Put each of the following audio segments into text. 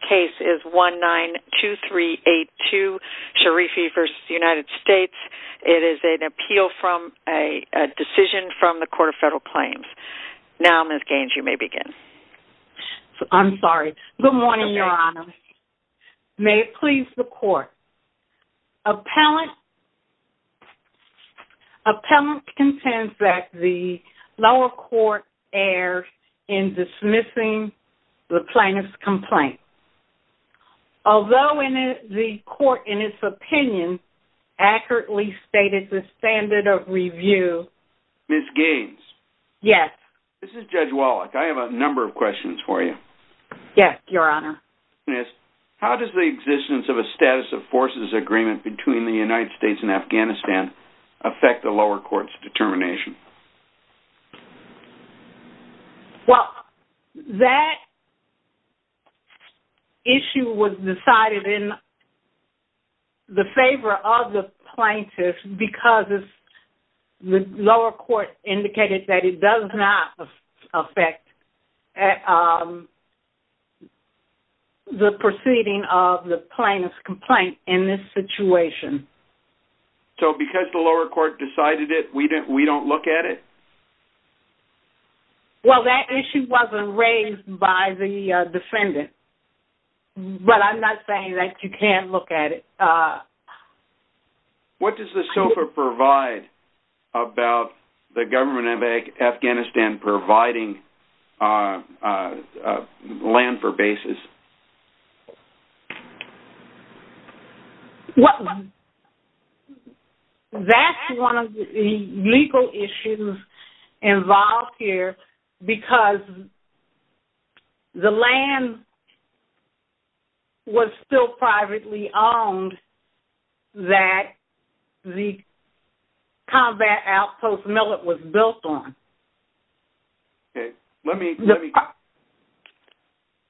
case is 192382 Sharifi v. United States. It is an appeal from a decision from the Court of Federal Claims. Now Ms. Gaines, you may begin. I'm sorry. Good morning, Your Honor. May it please the Court. Appellant contends that the lower court errs in dismissing the Although the court, in its opinion, accurately stated the standard of review. Ms. Gaines. Yes. This is Judge Wallach. I have a number of questions for you. Yes, Your Honor. How does the existence of a status of forces agreement between the United States and Afghanistan affect the lower court's determination? Well, that issue was decided in the favor of the plaintiff because the lower court indicated that it does not affect the proceeding of the plaintiff's situation. So because the lower court decided it, we don't look at it? Well, that issue wasn't raised by the defendant, but I'm not saying that you can't look at it. What does the SOFA provide about the government of Afghanistan providing land for bases? Well, that's one of the legal issues involved here because the land was still privately owned that the combat outpost millet was built on. Okay. Let me...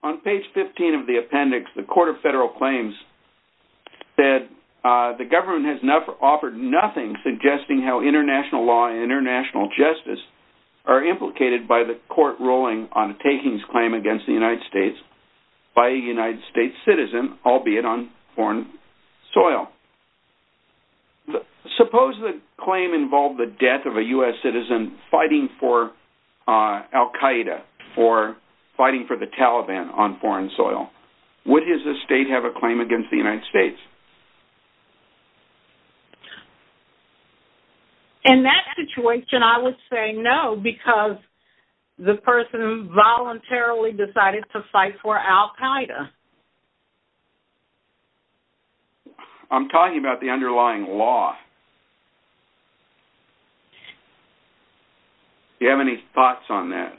On page 15 of the appendix, the Court of Federal Claims said the government has offered nothing suggesting how international law and international justice are implicated by the court ruling on a takings claim against the Soil. Suppose the claim involved the death of a US citizen fighting for Al Qaeda or fighting for the Taliban on foreign soil. Would his estate have a claim against the United States? In that situation, I would say no because the person voluntarily decided to fight for Al Qaeda. I'm talking about the underlying law. Do you have any thoughts on that?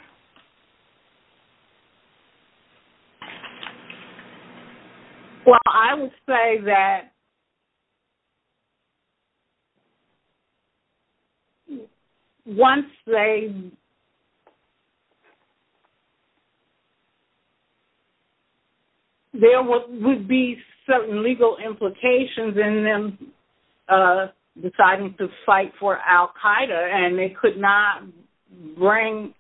Well, I would say that once they... There would be certain legal implications in them deciding to fight for Al Qaeda and they could not bring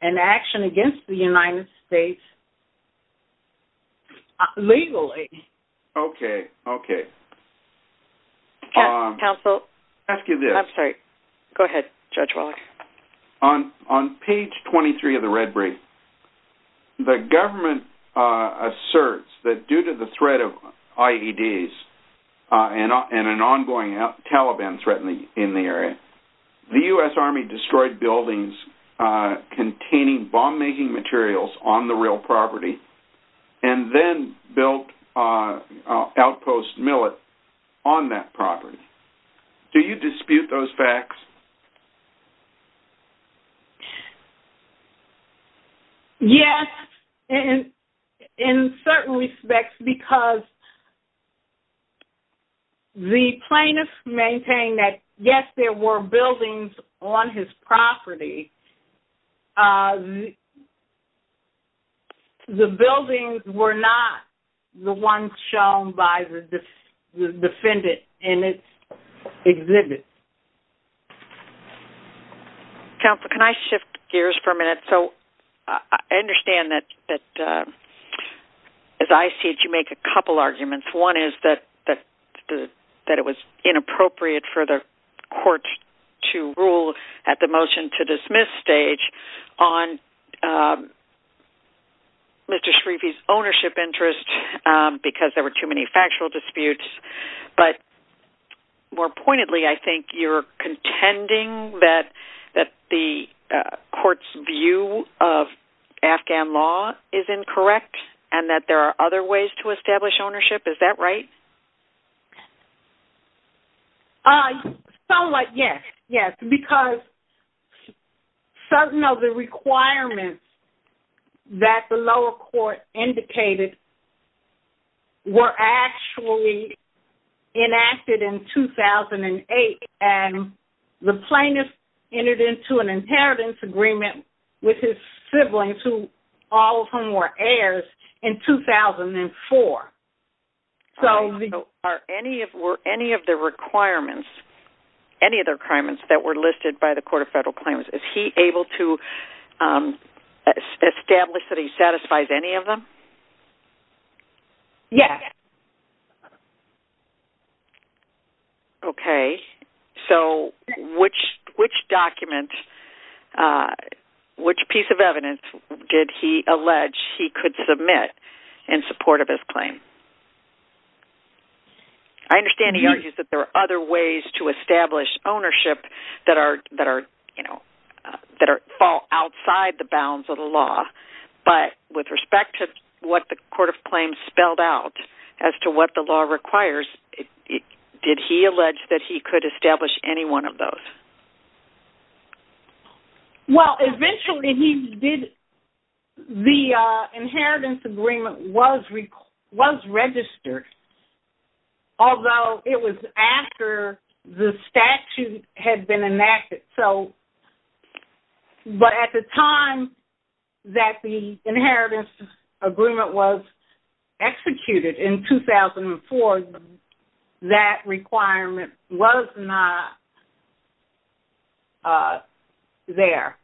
an action against the United States legally. Okay. Okay. Counsel, I'm sorry. Go ahead, Judge Waller. On page 23 of the red brief, the government asserts that due to the threat of IEDs and an ongoing Taliban threat in the area, the US Army destroyed buildings containing bomb-making materials on the real property and then built an outpost millet on that property. Do you dispute those facts? Yes, in certain respects because the plaintiffs maintain that yes, there were buildings on his property. The buildings were not the ones shown by the defendant in its exhibit. Counsel, can I shift gears for a minute? So I understand that as I see it, you make a couple arguments. One is that it was inappropriate for the court to rule at the motion to dismiss stage on Mr. Shafi's ownership interest because there were too many factual disputes. But more pointedly, I think you're contending that the court's view of Afghan law is incorrect and that there are ways to establish ownership. Is that right? Somewhat, yes. Yes. Because certain of the requirements that the lower court indicated were actually enacted in 2008 and the plaintiff entered into an inheritance agreement with his siblings who all of whom were heirs in 2004. Are any of the requirements, any of the requirements that were listed by the Court of Federal Claims, is he able to establish that he satisfies any of them? Yes. Okay. So which document, which piece of evidence did he allege he could submit in support of his claim? I understand he argues that there are other ways to establish ownership that fall outside the bounds of the law. But with respect to what the Court of Claims spelled out as to what the law requires, did he allege that he could establish any one of those? Well, eventually he did. The inheritance agreement was registered, although it was after the statute had been enacted. But at the time that the inheritance agreement was executed in 2004, that requirement was not there.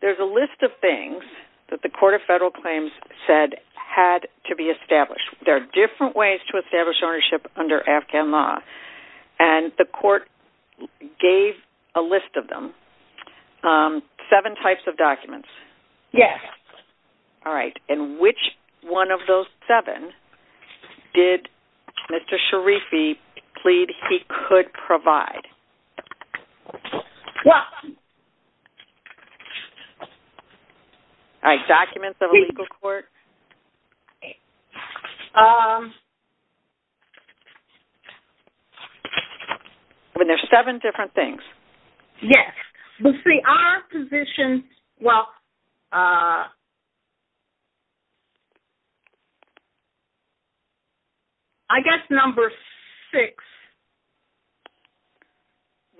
There's a list of things that the Court of Federal Claims said had to be established. There are different ways to establish ownership under Afghan law. And the Court gave a list of them. Seven types of documents. Yes. All right. And which one of them? All right. Documents of a legal court. There's seven different things. Yes. Let's see. Our position, well, I guess number six.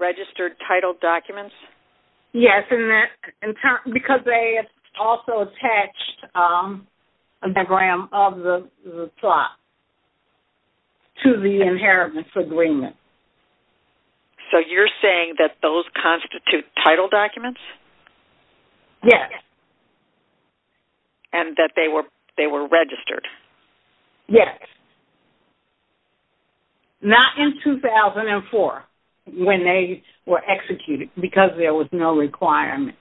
Registered title documents? Yes. And because they also attached a diagram of the plot to the inheritance agreement. So you're saying that those constitute title documents? Yes. And that they were registered? Yes. Not in 2004 when they were executed because there was no requirement.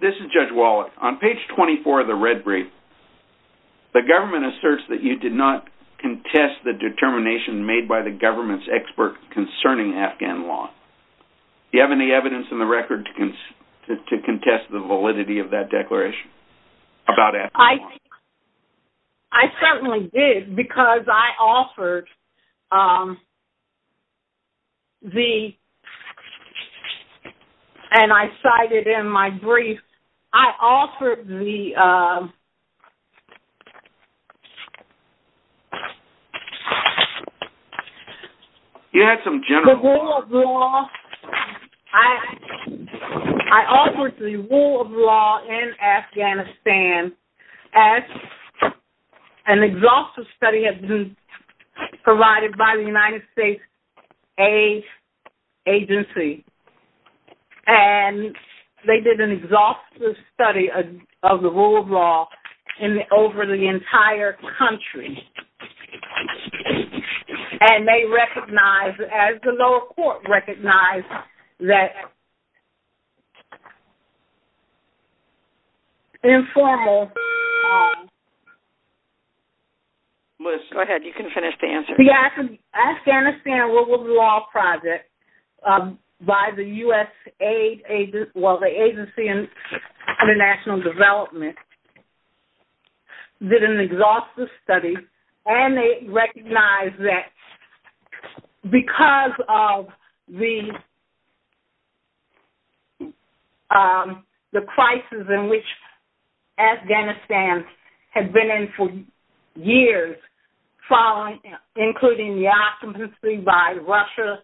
This is Judge Wallach. On page 24 of the red brief, the government asserts that you did not contest the determination made by the government's expert concerning Afghan law. Do you have any evidence in the record to contest the validity of that declaration? I certainly did because I offered the... And I cited in my brief, I offered the... You had some general... The rule of law, I offered the rule of law in Afghanistan as an exhaustive study had been provided by the United States agency. And they did an exhaustive study of the entire country. And they recognized as the lower court recognized that informal... Liz, go ahead. You can finish the answer. The Afghanistan rule of law project by the US aid... Well, the agency in international development did an exhaustive study and they recognized that because of the crisis in which Afghanistan had been in for years following including the occupancy by Russia,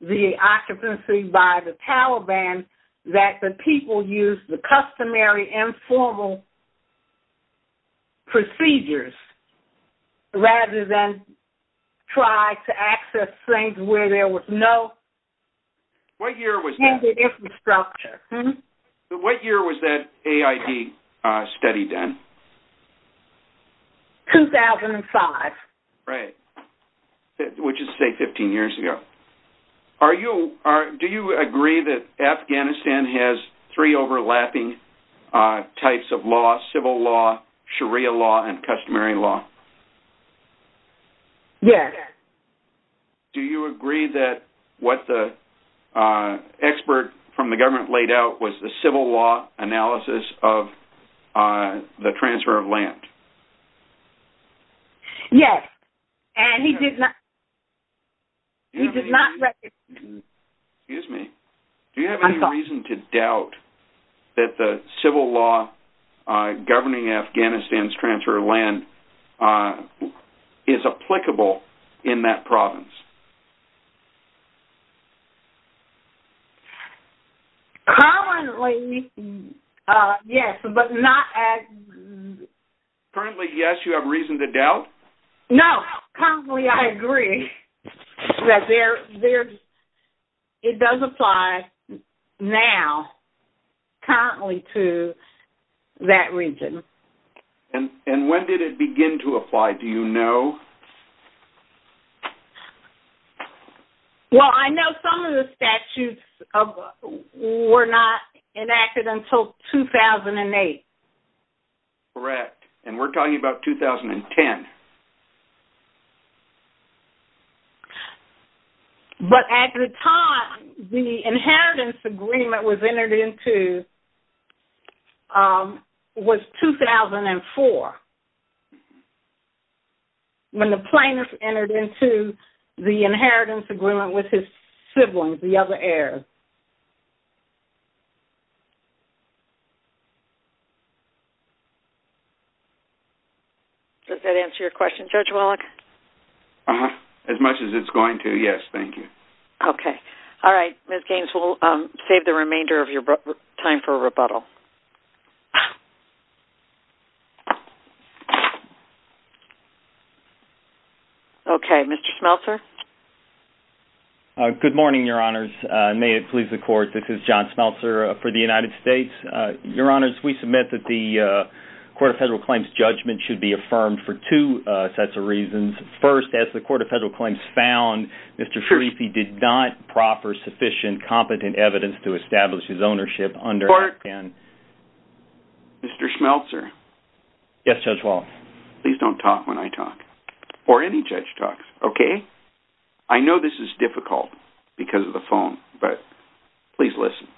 the occupancy by the Taliban, that the people used the customary informal procedures rather than try to access things where there was no... What year was that? ...infrastructure? What year was that AID study done? 2005. Right. Which is say 15 years ago. Are you... Do you agree that Afghanistan has three overlapping types of law, civil law, Sharia law, and customary law? Yes. Do you agree that what the expert from the government laid out was the civil law analysis of the transfer of land? Yes. And he did not... He did not... Excuse me. Do you have any reason to doubt that the civil law governing Afghanistan's transfer of land is applicable in that province? Currently, yes, but not as... Currently, yes. You have reason to doubt? No. Currently, I agree that there's... It does apply now, currently, to that region. And when did it begin to apply? Do you know? Well, I know some of the statutes were not enacted until 2008. Correct. And we're talking about 2010. But at the time, the inheritance agreement was entered into was 2004. When the plaintiff entered into the inheritance agreement with his siblings, the other heirs. Does that answer your question, Judge Wallach? As much as it's going to, yes. Thank you. Okay. All right. Ms. Gaines, we'll save the remainder of your time for rebuttal. Okay. Mr. Schmelzer? Good morning, Your Honors. May it please the Court, this is John Schmelzer for the United States. Your Honors, we submit that the Court of Federal Claims judgment should be affirmed for two sets of reasons. First, as the Court of Federal Claims found, Mr. Sharifi did not proffer sufficient competent evidence to establish his ownership under... Mr. Schmelzer? Yes, Judge Wallach? Please don't talk when I talk, or any judge talks, okay? I know this is difficult because of the phone, but please listen.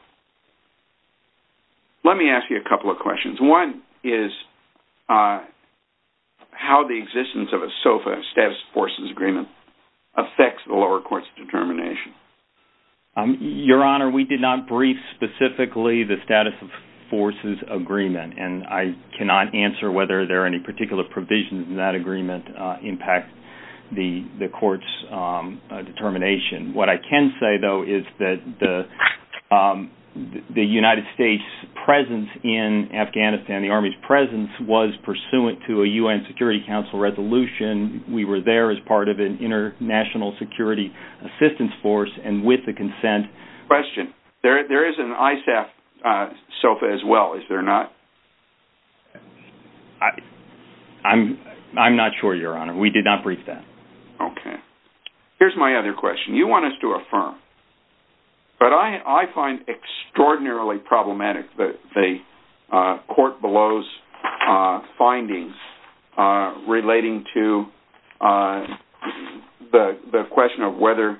Let me ask you a couple of questions. One is how the existence of a SOFA, a Status of Forces Agreement, affects the lower court's determination. Your Honor, we did not brief specifically the Status of Forces Agreement, and I cannot answer whether there are any particular provisions in that agreement that impact the court's determination. What I can say, though, is that the United States' presence in Afghanistan, the Army's presence, was pursuant to a U.N. Security Council resolution. We were there as part of an international security assistance force, and with the consent... Question. There is an ISAF SOFA as well, is there not? I'm not sure, Your Honor. We did not brief that. Okay. Here's my other question. You want us to affirm, but I find extraordinarily problematic the court below's findings relating to the question of whether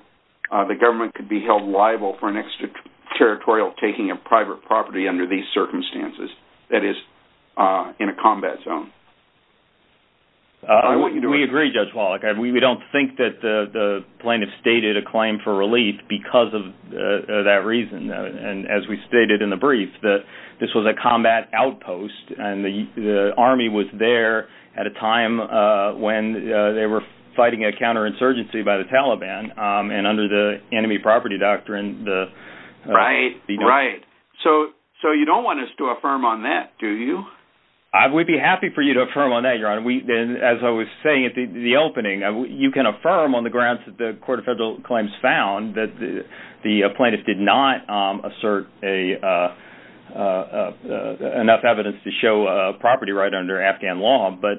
the government could be held liable for an extraterritorial taking of private property under these circumstances, that is, in a combat zone. I want you to... We agree, Judge Wallach. We don't think that the plaintiff stated a claim for relief because of that reason, and as we stated in the brief, that this was a combat outpost, and the Army was there at a time when they were fighting a counterinsurgency by the Taliban, and under the enemy property doctrine, the... Right, right. So you don't want us to affirm on that, do you? I would be happy for you to affirm on that, Your Honor. As I was saying at the opening, you can affirm on the grounds that the court of federal claims found that the plaintiff did not assert enough evidence to show property right under Afghan law, but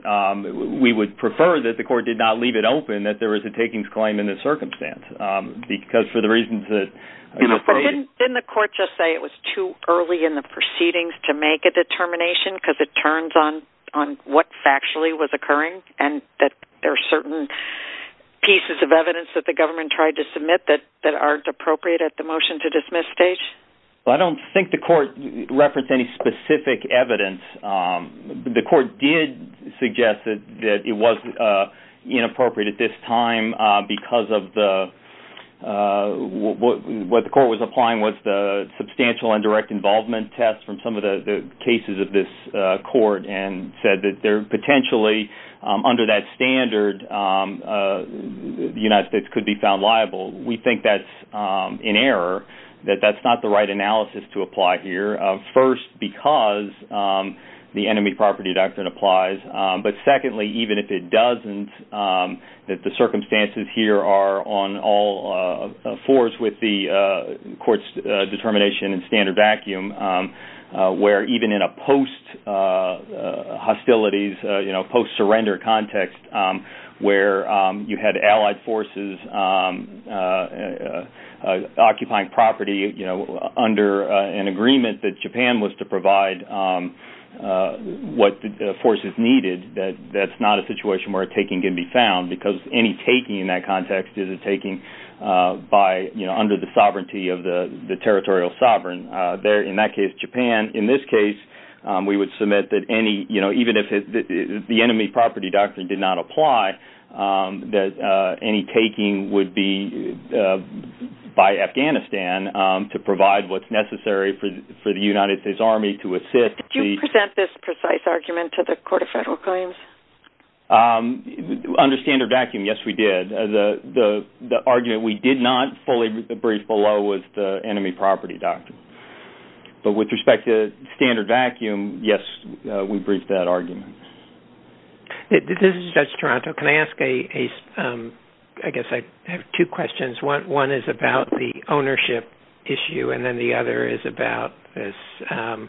we would prefer that the court did not leave it open, that there was a takings claim in this circumstance, because for the reasons that... Didn't the court just say it was too early in the proceedings to make a piece of evidence that the government tried to submit that aren't appropriate at the motion to dismiss stage? Well, I don't think the court referenced any specific evidence. The court did suggest that it wasn't inappropriate at this time because of the... What the court was applying was the substantial and direct involvement test from the cases of this court and said that they're potentially, under that standard, the United States could be found liable. We think that's an error, that that's not the right analysis to apply here. First, because the enemy property doctrine applies, but secondly, even if it doesn't, that the circumstances here are on all fours with the court's determination and standard vacuum, where even in a post-hostilities, post-surrender context, where you had allied forces occupying property under an agreement that Japan was to provide what the forces needed, that that's not a situation where a taking can be found, because any taking in that context is a taking by, under the sovereignty of the territorial sovereign. There, in that case, Japan. In this case, we would submit that any, even if the enemy property doctrine did not apply, that any taking would be by Afghanistan to provide what's necessary for the United States Army to assist. Did you present this precise argument to the Court of Federal Claims? Under standard vacuum, yes, we did. The argument we did not fully brief below was the enemy property doctrine. But with respect to standard vacuum, yes, we briefed that argument. This is Judge Toronto. Can I ask, I guess, I have two questions. One is about the ownership issue, and then the other is about the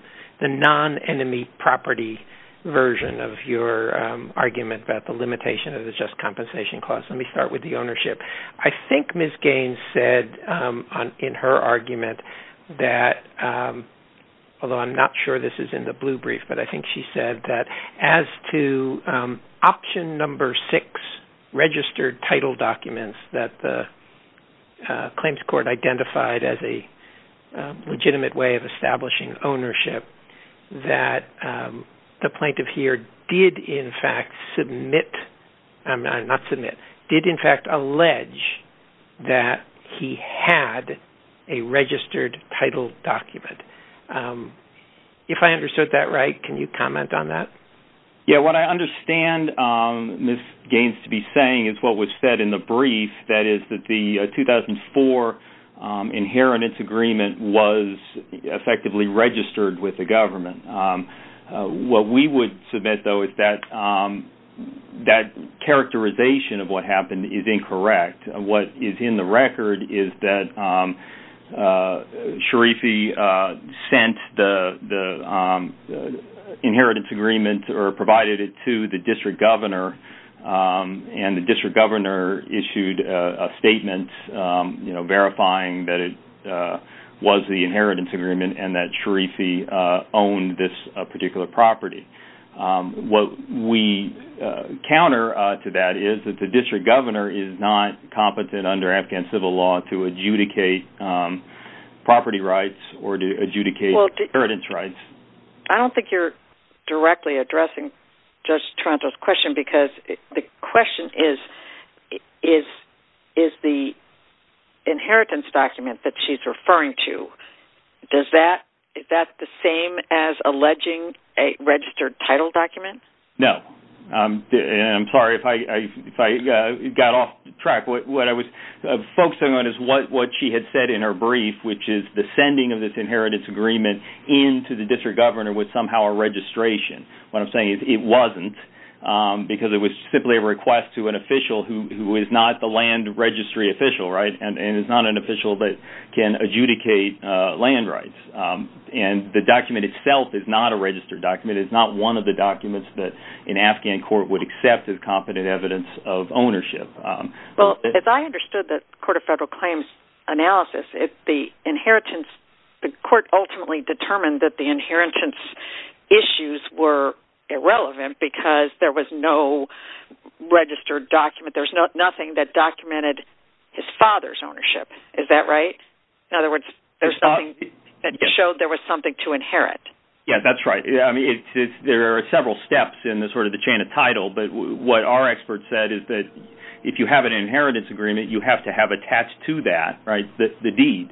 non-enemy property version of your argument about the limitation of the Just Compensation Clause. Let me start with the ownership. I think Ms. Gaines said in her argument that, although I'm not sure this is in the blue brief, but I think she said as to option number six, registered title documents that the claims court identified as a legitimate way of establishing ownership, that the plaintiff here did, in fact, allege that he had a registered title document. If I understood that right, can you comment on that? Yeah, what I understand Ms. Gaines to be saying is what was said in the brief, that is, that the 2004 inheritance agreement was effectively registered with the government. What we would submit, though, is that that characterization of what happened is incorrect. What is in the record is that Sharifi sent the inheritance agreement or provided it to the district governor, and the district governor issued a statement verifying that it was the particular property. What we counter to that is that the district governor is not competent under Afghan civil law to adjudicate property rights or to adjudicate inheritance rights. I don't think you're directly addressing Judge Toronto's question because the question is, is the inheritance document that she's referring to, does that, is that the same as alleging a registered title document? No. I'm sorry if I got off track. What I was focusing on is what she had said in her brief, which is the sending of this inheritance agreement into the district governor was somehow a registration. What I'm simply a request to an official who is not the land registry official, right, and is not an official that can adjudicate land rights. The document itself is not a registered document. It's not one of the documents that an Afghan court would accept as competent evidence of ownership. Well, if I understood the Court of Federal Claims analysis, if the inheritance, the court ultimately determined that the inheritance issues were irrelevant because there was no registered document, there's nothing that documented his father's ownership. Is that right? In other words, there's something that showed there was something to inherit. Yeah, that's right. I mean, there are several steps in this sort of the chain of title, but what our experts said is that if you have an inheritance agreement, you have to have attached to that, right, the deed.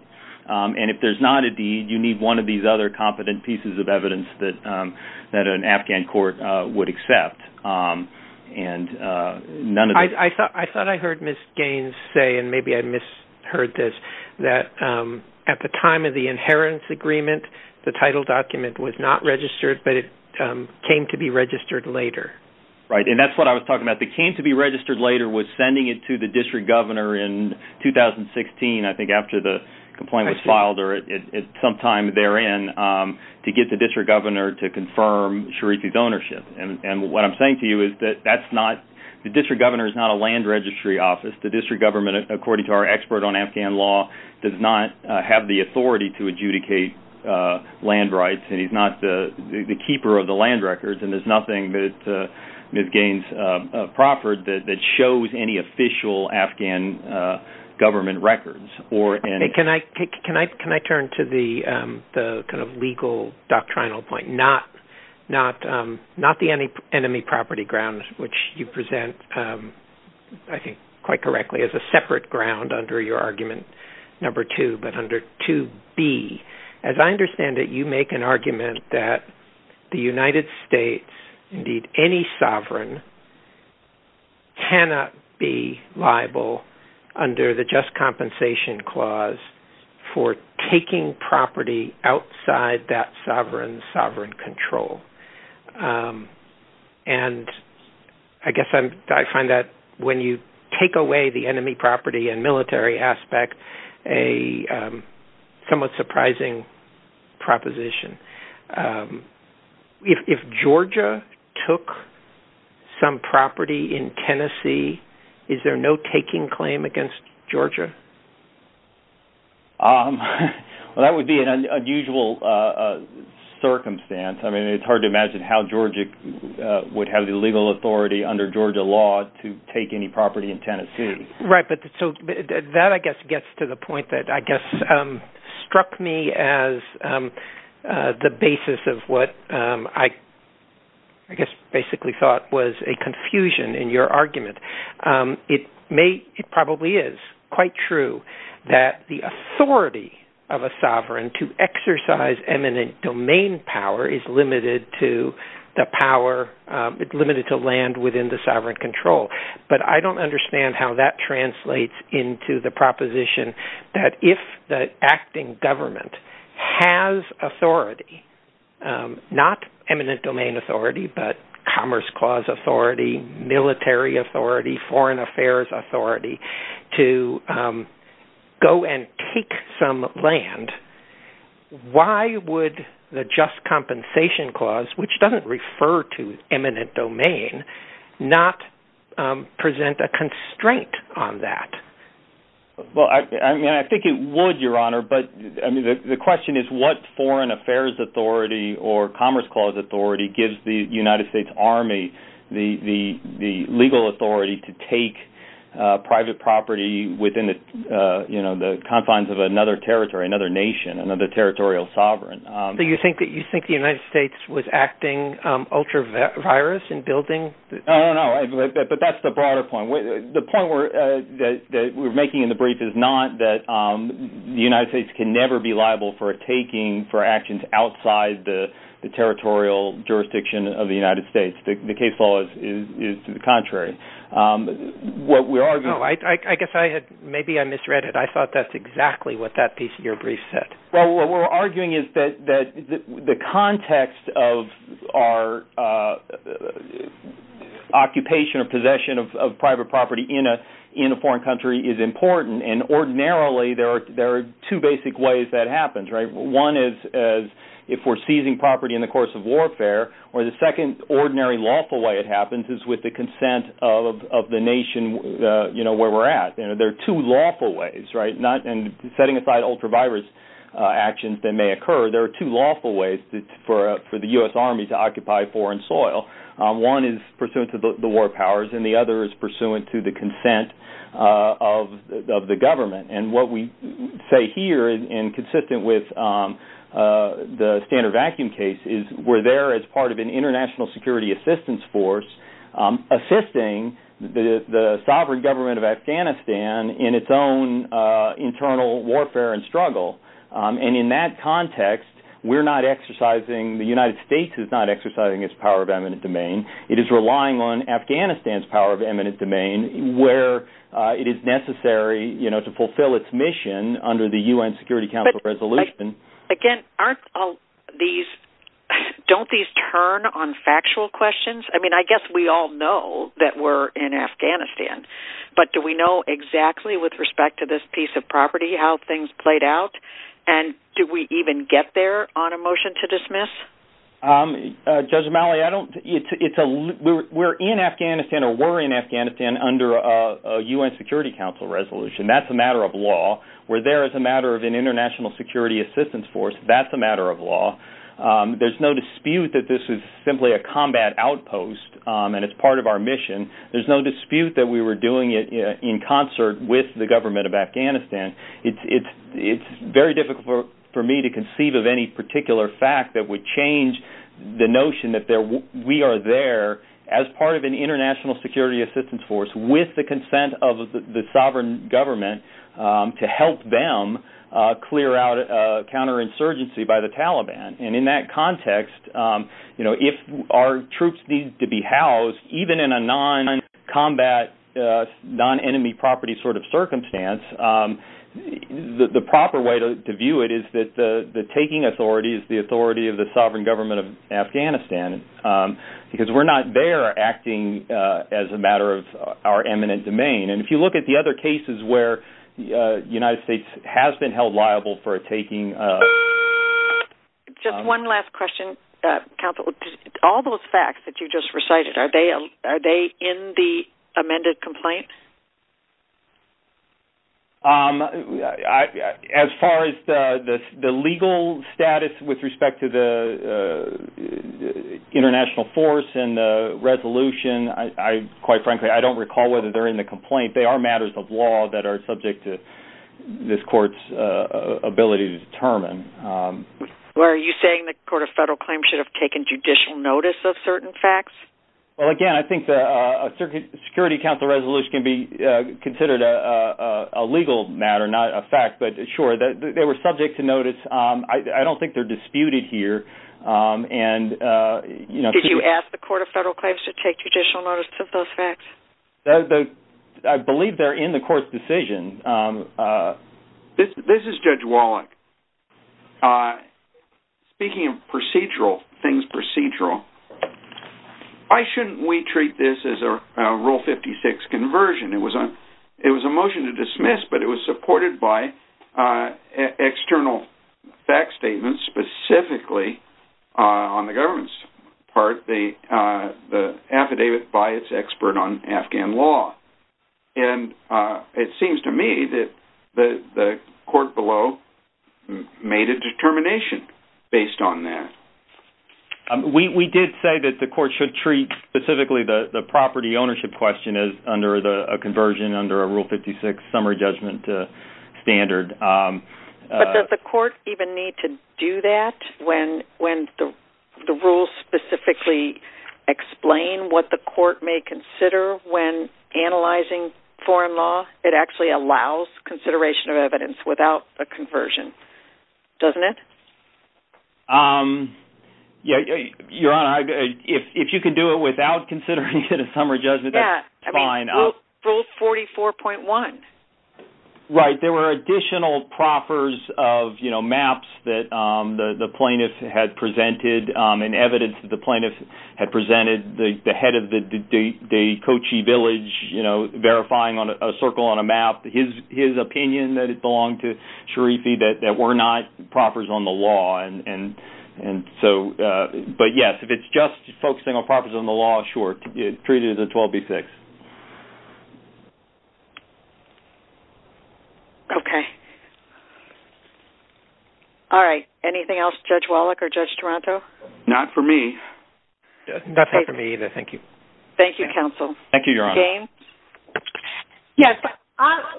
And if there's not a deed, you need one of these other competent pieces of evidence that an Afghan court would accept. I thought I heard Ms. Gaines say, and maybe I misheard this, that at the time of the inheritance agreement, the title document was not registered, but it came to be registered later. Right. And that's what I was talking about. The came to be registered later was sending it to the district governor in 2016, I think, after the complaint was filed or sometime therein to get the district governor to confirm Sharifi's ownership. And what I'm saying to you is that the district governor is not a land registry office. The district government, according to our expert on Afghan law, does not have the authority to adjudicate land rights, and he's not the keeper of the land records. And there's official Afghan government records. Can I turn to the kind of legal doctrinal point, not the enemy property grounds, which you present, I think, quite correctly, as a separate ground under your argument, number two, but under 2B. As I understand it, you make an argument that the United States, indeed, any sovereign cannot be liable under the just compensation clause for taking property outside that sovereign's sovereign control. And I guess I find that when you take away the enemy property and military aspect, a somewhat surprising proposition. If Georgia took some property in Tennessee, is there no taking claim against Georgia? Well, that would be an unusual circumstance. I mean, it's hard to imagine how Georgia would have the legal authority under Georgia law to take any property in Tennessee. Right. But that, I guess, gets to the point that, I guess, struck me as the basis of what I basically thought was a confusion in your argument. It probably is quite true that the authority of a sovereign to exercise eminent domain power is limited to land within the state. And that translates into the proposition that if the acting government has authority, not eminent domain authority, but commerce clause authority, military authority, foreign affairs authority, to go and take some land, why would the just compensation clause, which doesn't refer to eminent domain, not present a constraint on that? Well, I mean, I think it would, Your Honor. But I mean, the question is what foreign affairs authority or commerce clause authority gives the United States Army the legal authority to take private property within the confines of another territory, another nation, another territorial sovereign? Do you think that you think the United States was acting ultra-virus in building? Oh, no. But that's the broader point. The point that we're making in the brief is not that the United States can never be liable for taking for actions outside the territorial jurisdiction of the United States. The case law is to the contrary. What we're arguing... No, I guess I had, maybe I misread it. I thought that's exactly what that piece of your brief said. Well, what we're arguing is that the context of our occupation or possession of private property in a foreign country is important. And ordinarily, there are two basic ways that happens, right? One is if we're seizing property in the course of warfare, or the second ordinary lawful way it happens is with the consent of the nation where we're at. There are two lawful ways, right? And setting aside ultra-virus actions that may occur, there are two lawful ways for the U.S. Army to occupy foreign soil. One is pursuant to the war powers, and the other is pursuant to the consent of the government. And what we say here, and consistent with the standard vacuum case, is we're there as part of an international security assistance force, assisting the warfare and struggle. And in that context, the United States is not exercising its power of eminent domain. It is relying on Afghanistan's power of eminent domain where it is necessary to fulfill its mission under the U.N. Security Council resolution. Again, don't these turn on factual questions? I mean, I guess we all know that we're in Afghanistan. We're in Afghanistan or were in Afghanistan under a U.N. Security Council resolution. That's a matter of law. We're there as a matter of an international security assistance force. That's a matter of law. There's no dispute that this is simply a combat outpost, and it's part of our mission. There's no dispute that we were doing it in concert with the U.N. Security Council. It's very difficult for me to conceive of any particular fact that would change the notion that we are there as part of an international security assistance force with the consent of the sovereign government to help them clear out counterinsurgency by the Taliban. And in that context, if our troops need to be housed, even in a non-combat, non-enemy property sort of circumstance, the proper way to view it is that the taking authority is the authority of the sovereign government of Afghanistan, because we're not there acting as a matter of our eminent domain. And if you look at the other cases where the United States has been held liable for taking... Just one last question, Counsel. All those facts that you just recited, are they in the complaint? As far as the legal status with respect to the international force and the resolution, quite frankly, I don't recall whether they're in the complaint. They are matters of law that are subject to this court's ability to determine. Are you saying the Court of Federal Claims should have taken judicial notice of certain facts? Well, again, I think the Security Council resolution can be considered a legal matter, not a fact. But sure, they were subject to notice. I don't think they're disputed here. Did you ask the Court of Federal Claims to take judicial notice of those facts? I believe they're in the court's decision. This is Judge Wallach. Speaking of procedural things, procedural, why shouldn't we treat this as a Rule 56 conversion? It was a motion to dismiss, but it was supported by external fact statements, specifically on the government's part, the affidavit by its expert on Afghan law. And it seems to me that the court below made a determination based on that. We did say that the court should treat specifically the property ownership question as under a conversion, under a Rule 56 summary explain what the court may consider when analyzing foreign law. It actually allows consideration of evidence without a conversion, doesn't it? Your Honor, if you can do it without considering it in a summary judgment, that's fine. I mean, Rule 44.1. Right. There were additional proffers of maps that the plaintiff had presented in evidence that the plaintiff had presented, the head of the Kochi village verifying a circle on a map, his opinion that it belonged to Sharifi, that were not proffers on the law. But yes, if it's just focusing on proffers on the law, sure, treat it as a 12B6. Okay. All right. Anything else, Judge Wallach or Judge Toronto? Not for me. Not for me either. Thank you. Thank you, counsel. Thank you, Your Honor. James? Yes.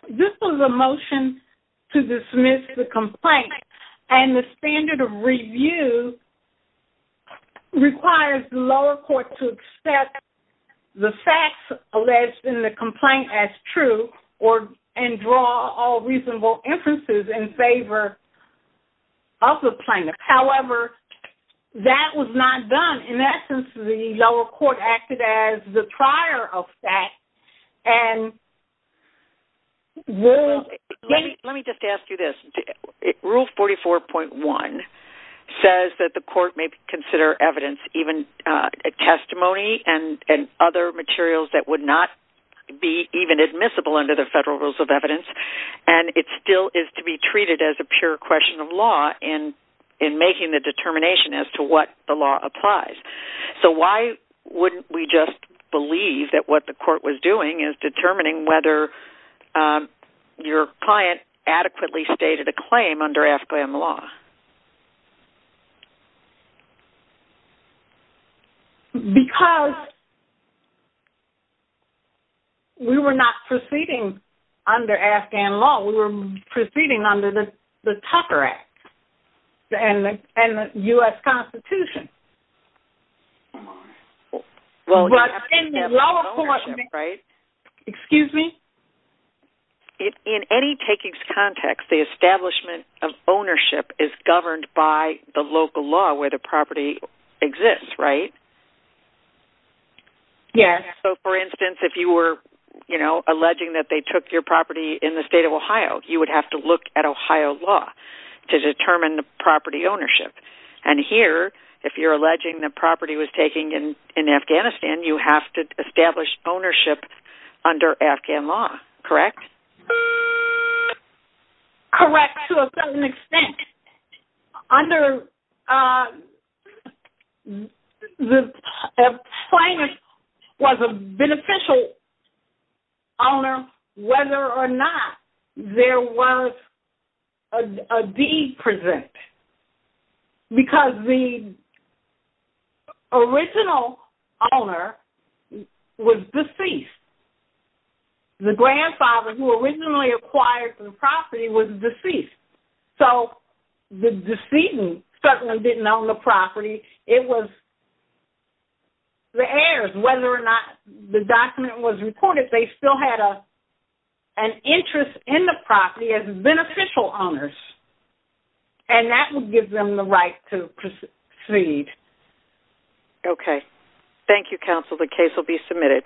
This was a motion to dismiss the complaint. And the standard of review requires the lower court to accept the facts alleged in the complaint as true and draw all reasonable inferences in favor of the plaintiff. However, that was not done. In essence, the lower court acted as the prior of that and... Let me just ask you this. Rule 44.1 says that the court may consider evidence, a testimony and other materials that would not be even admissible under the Federal Rules of Evidence. And it still is to be treated as a pure question of law in making the determination as to what the law applies. So why wouldn't we just believe that what the court was doing is determining whether your client adequately stated a claim under Afghan law? Because we were not proceeding under Afghan law. We were proceeding under the Tucker Act and the U.S. Constitution. Well, you have to have ownership, right? Excuse me? In any taking context, the establishment of ownership is governed by the local law where property exists, right? Yes. So, for instance, if you were, you know, alleging that they took your property in the state of Ohio, you would have to look at Ohio law to determine the property ownership. And here, if you're alleging that property was taken in Afghanistan, you have to establish ownership under Afghan law, correct? Correct, to a certain extent. Under the claimant was a beneficial owner whether or not there was a deed present. Because the original owner was deceased. The grandfather who originally acquired the property was deceased. So the decedent certainly didn't own the property. It was the heirs. Whether or not the document was recorded, they still had an interest in the property as beneficial owners. And that would give them the right to proceed. Okay. Thank you, counsel. The case will be submitted.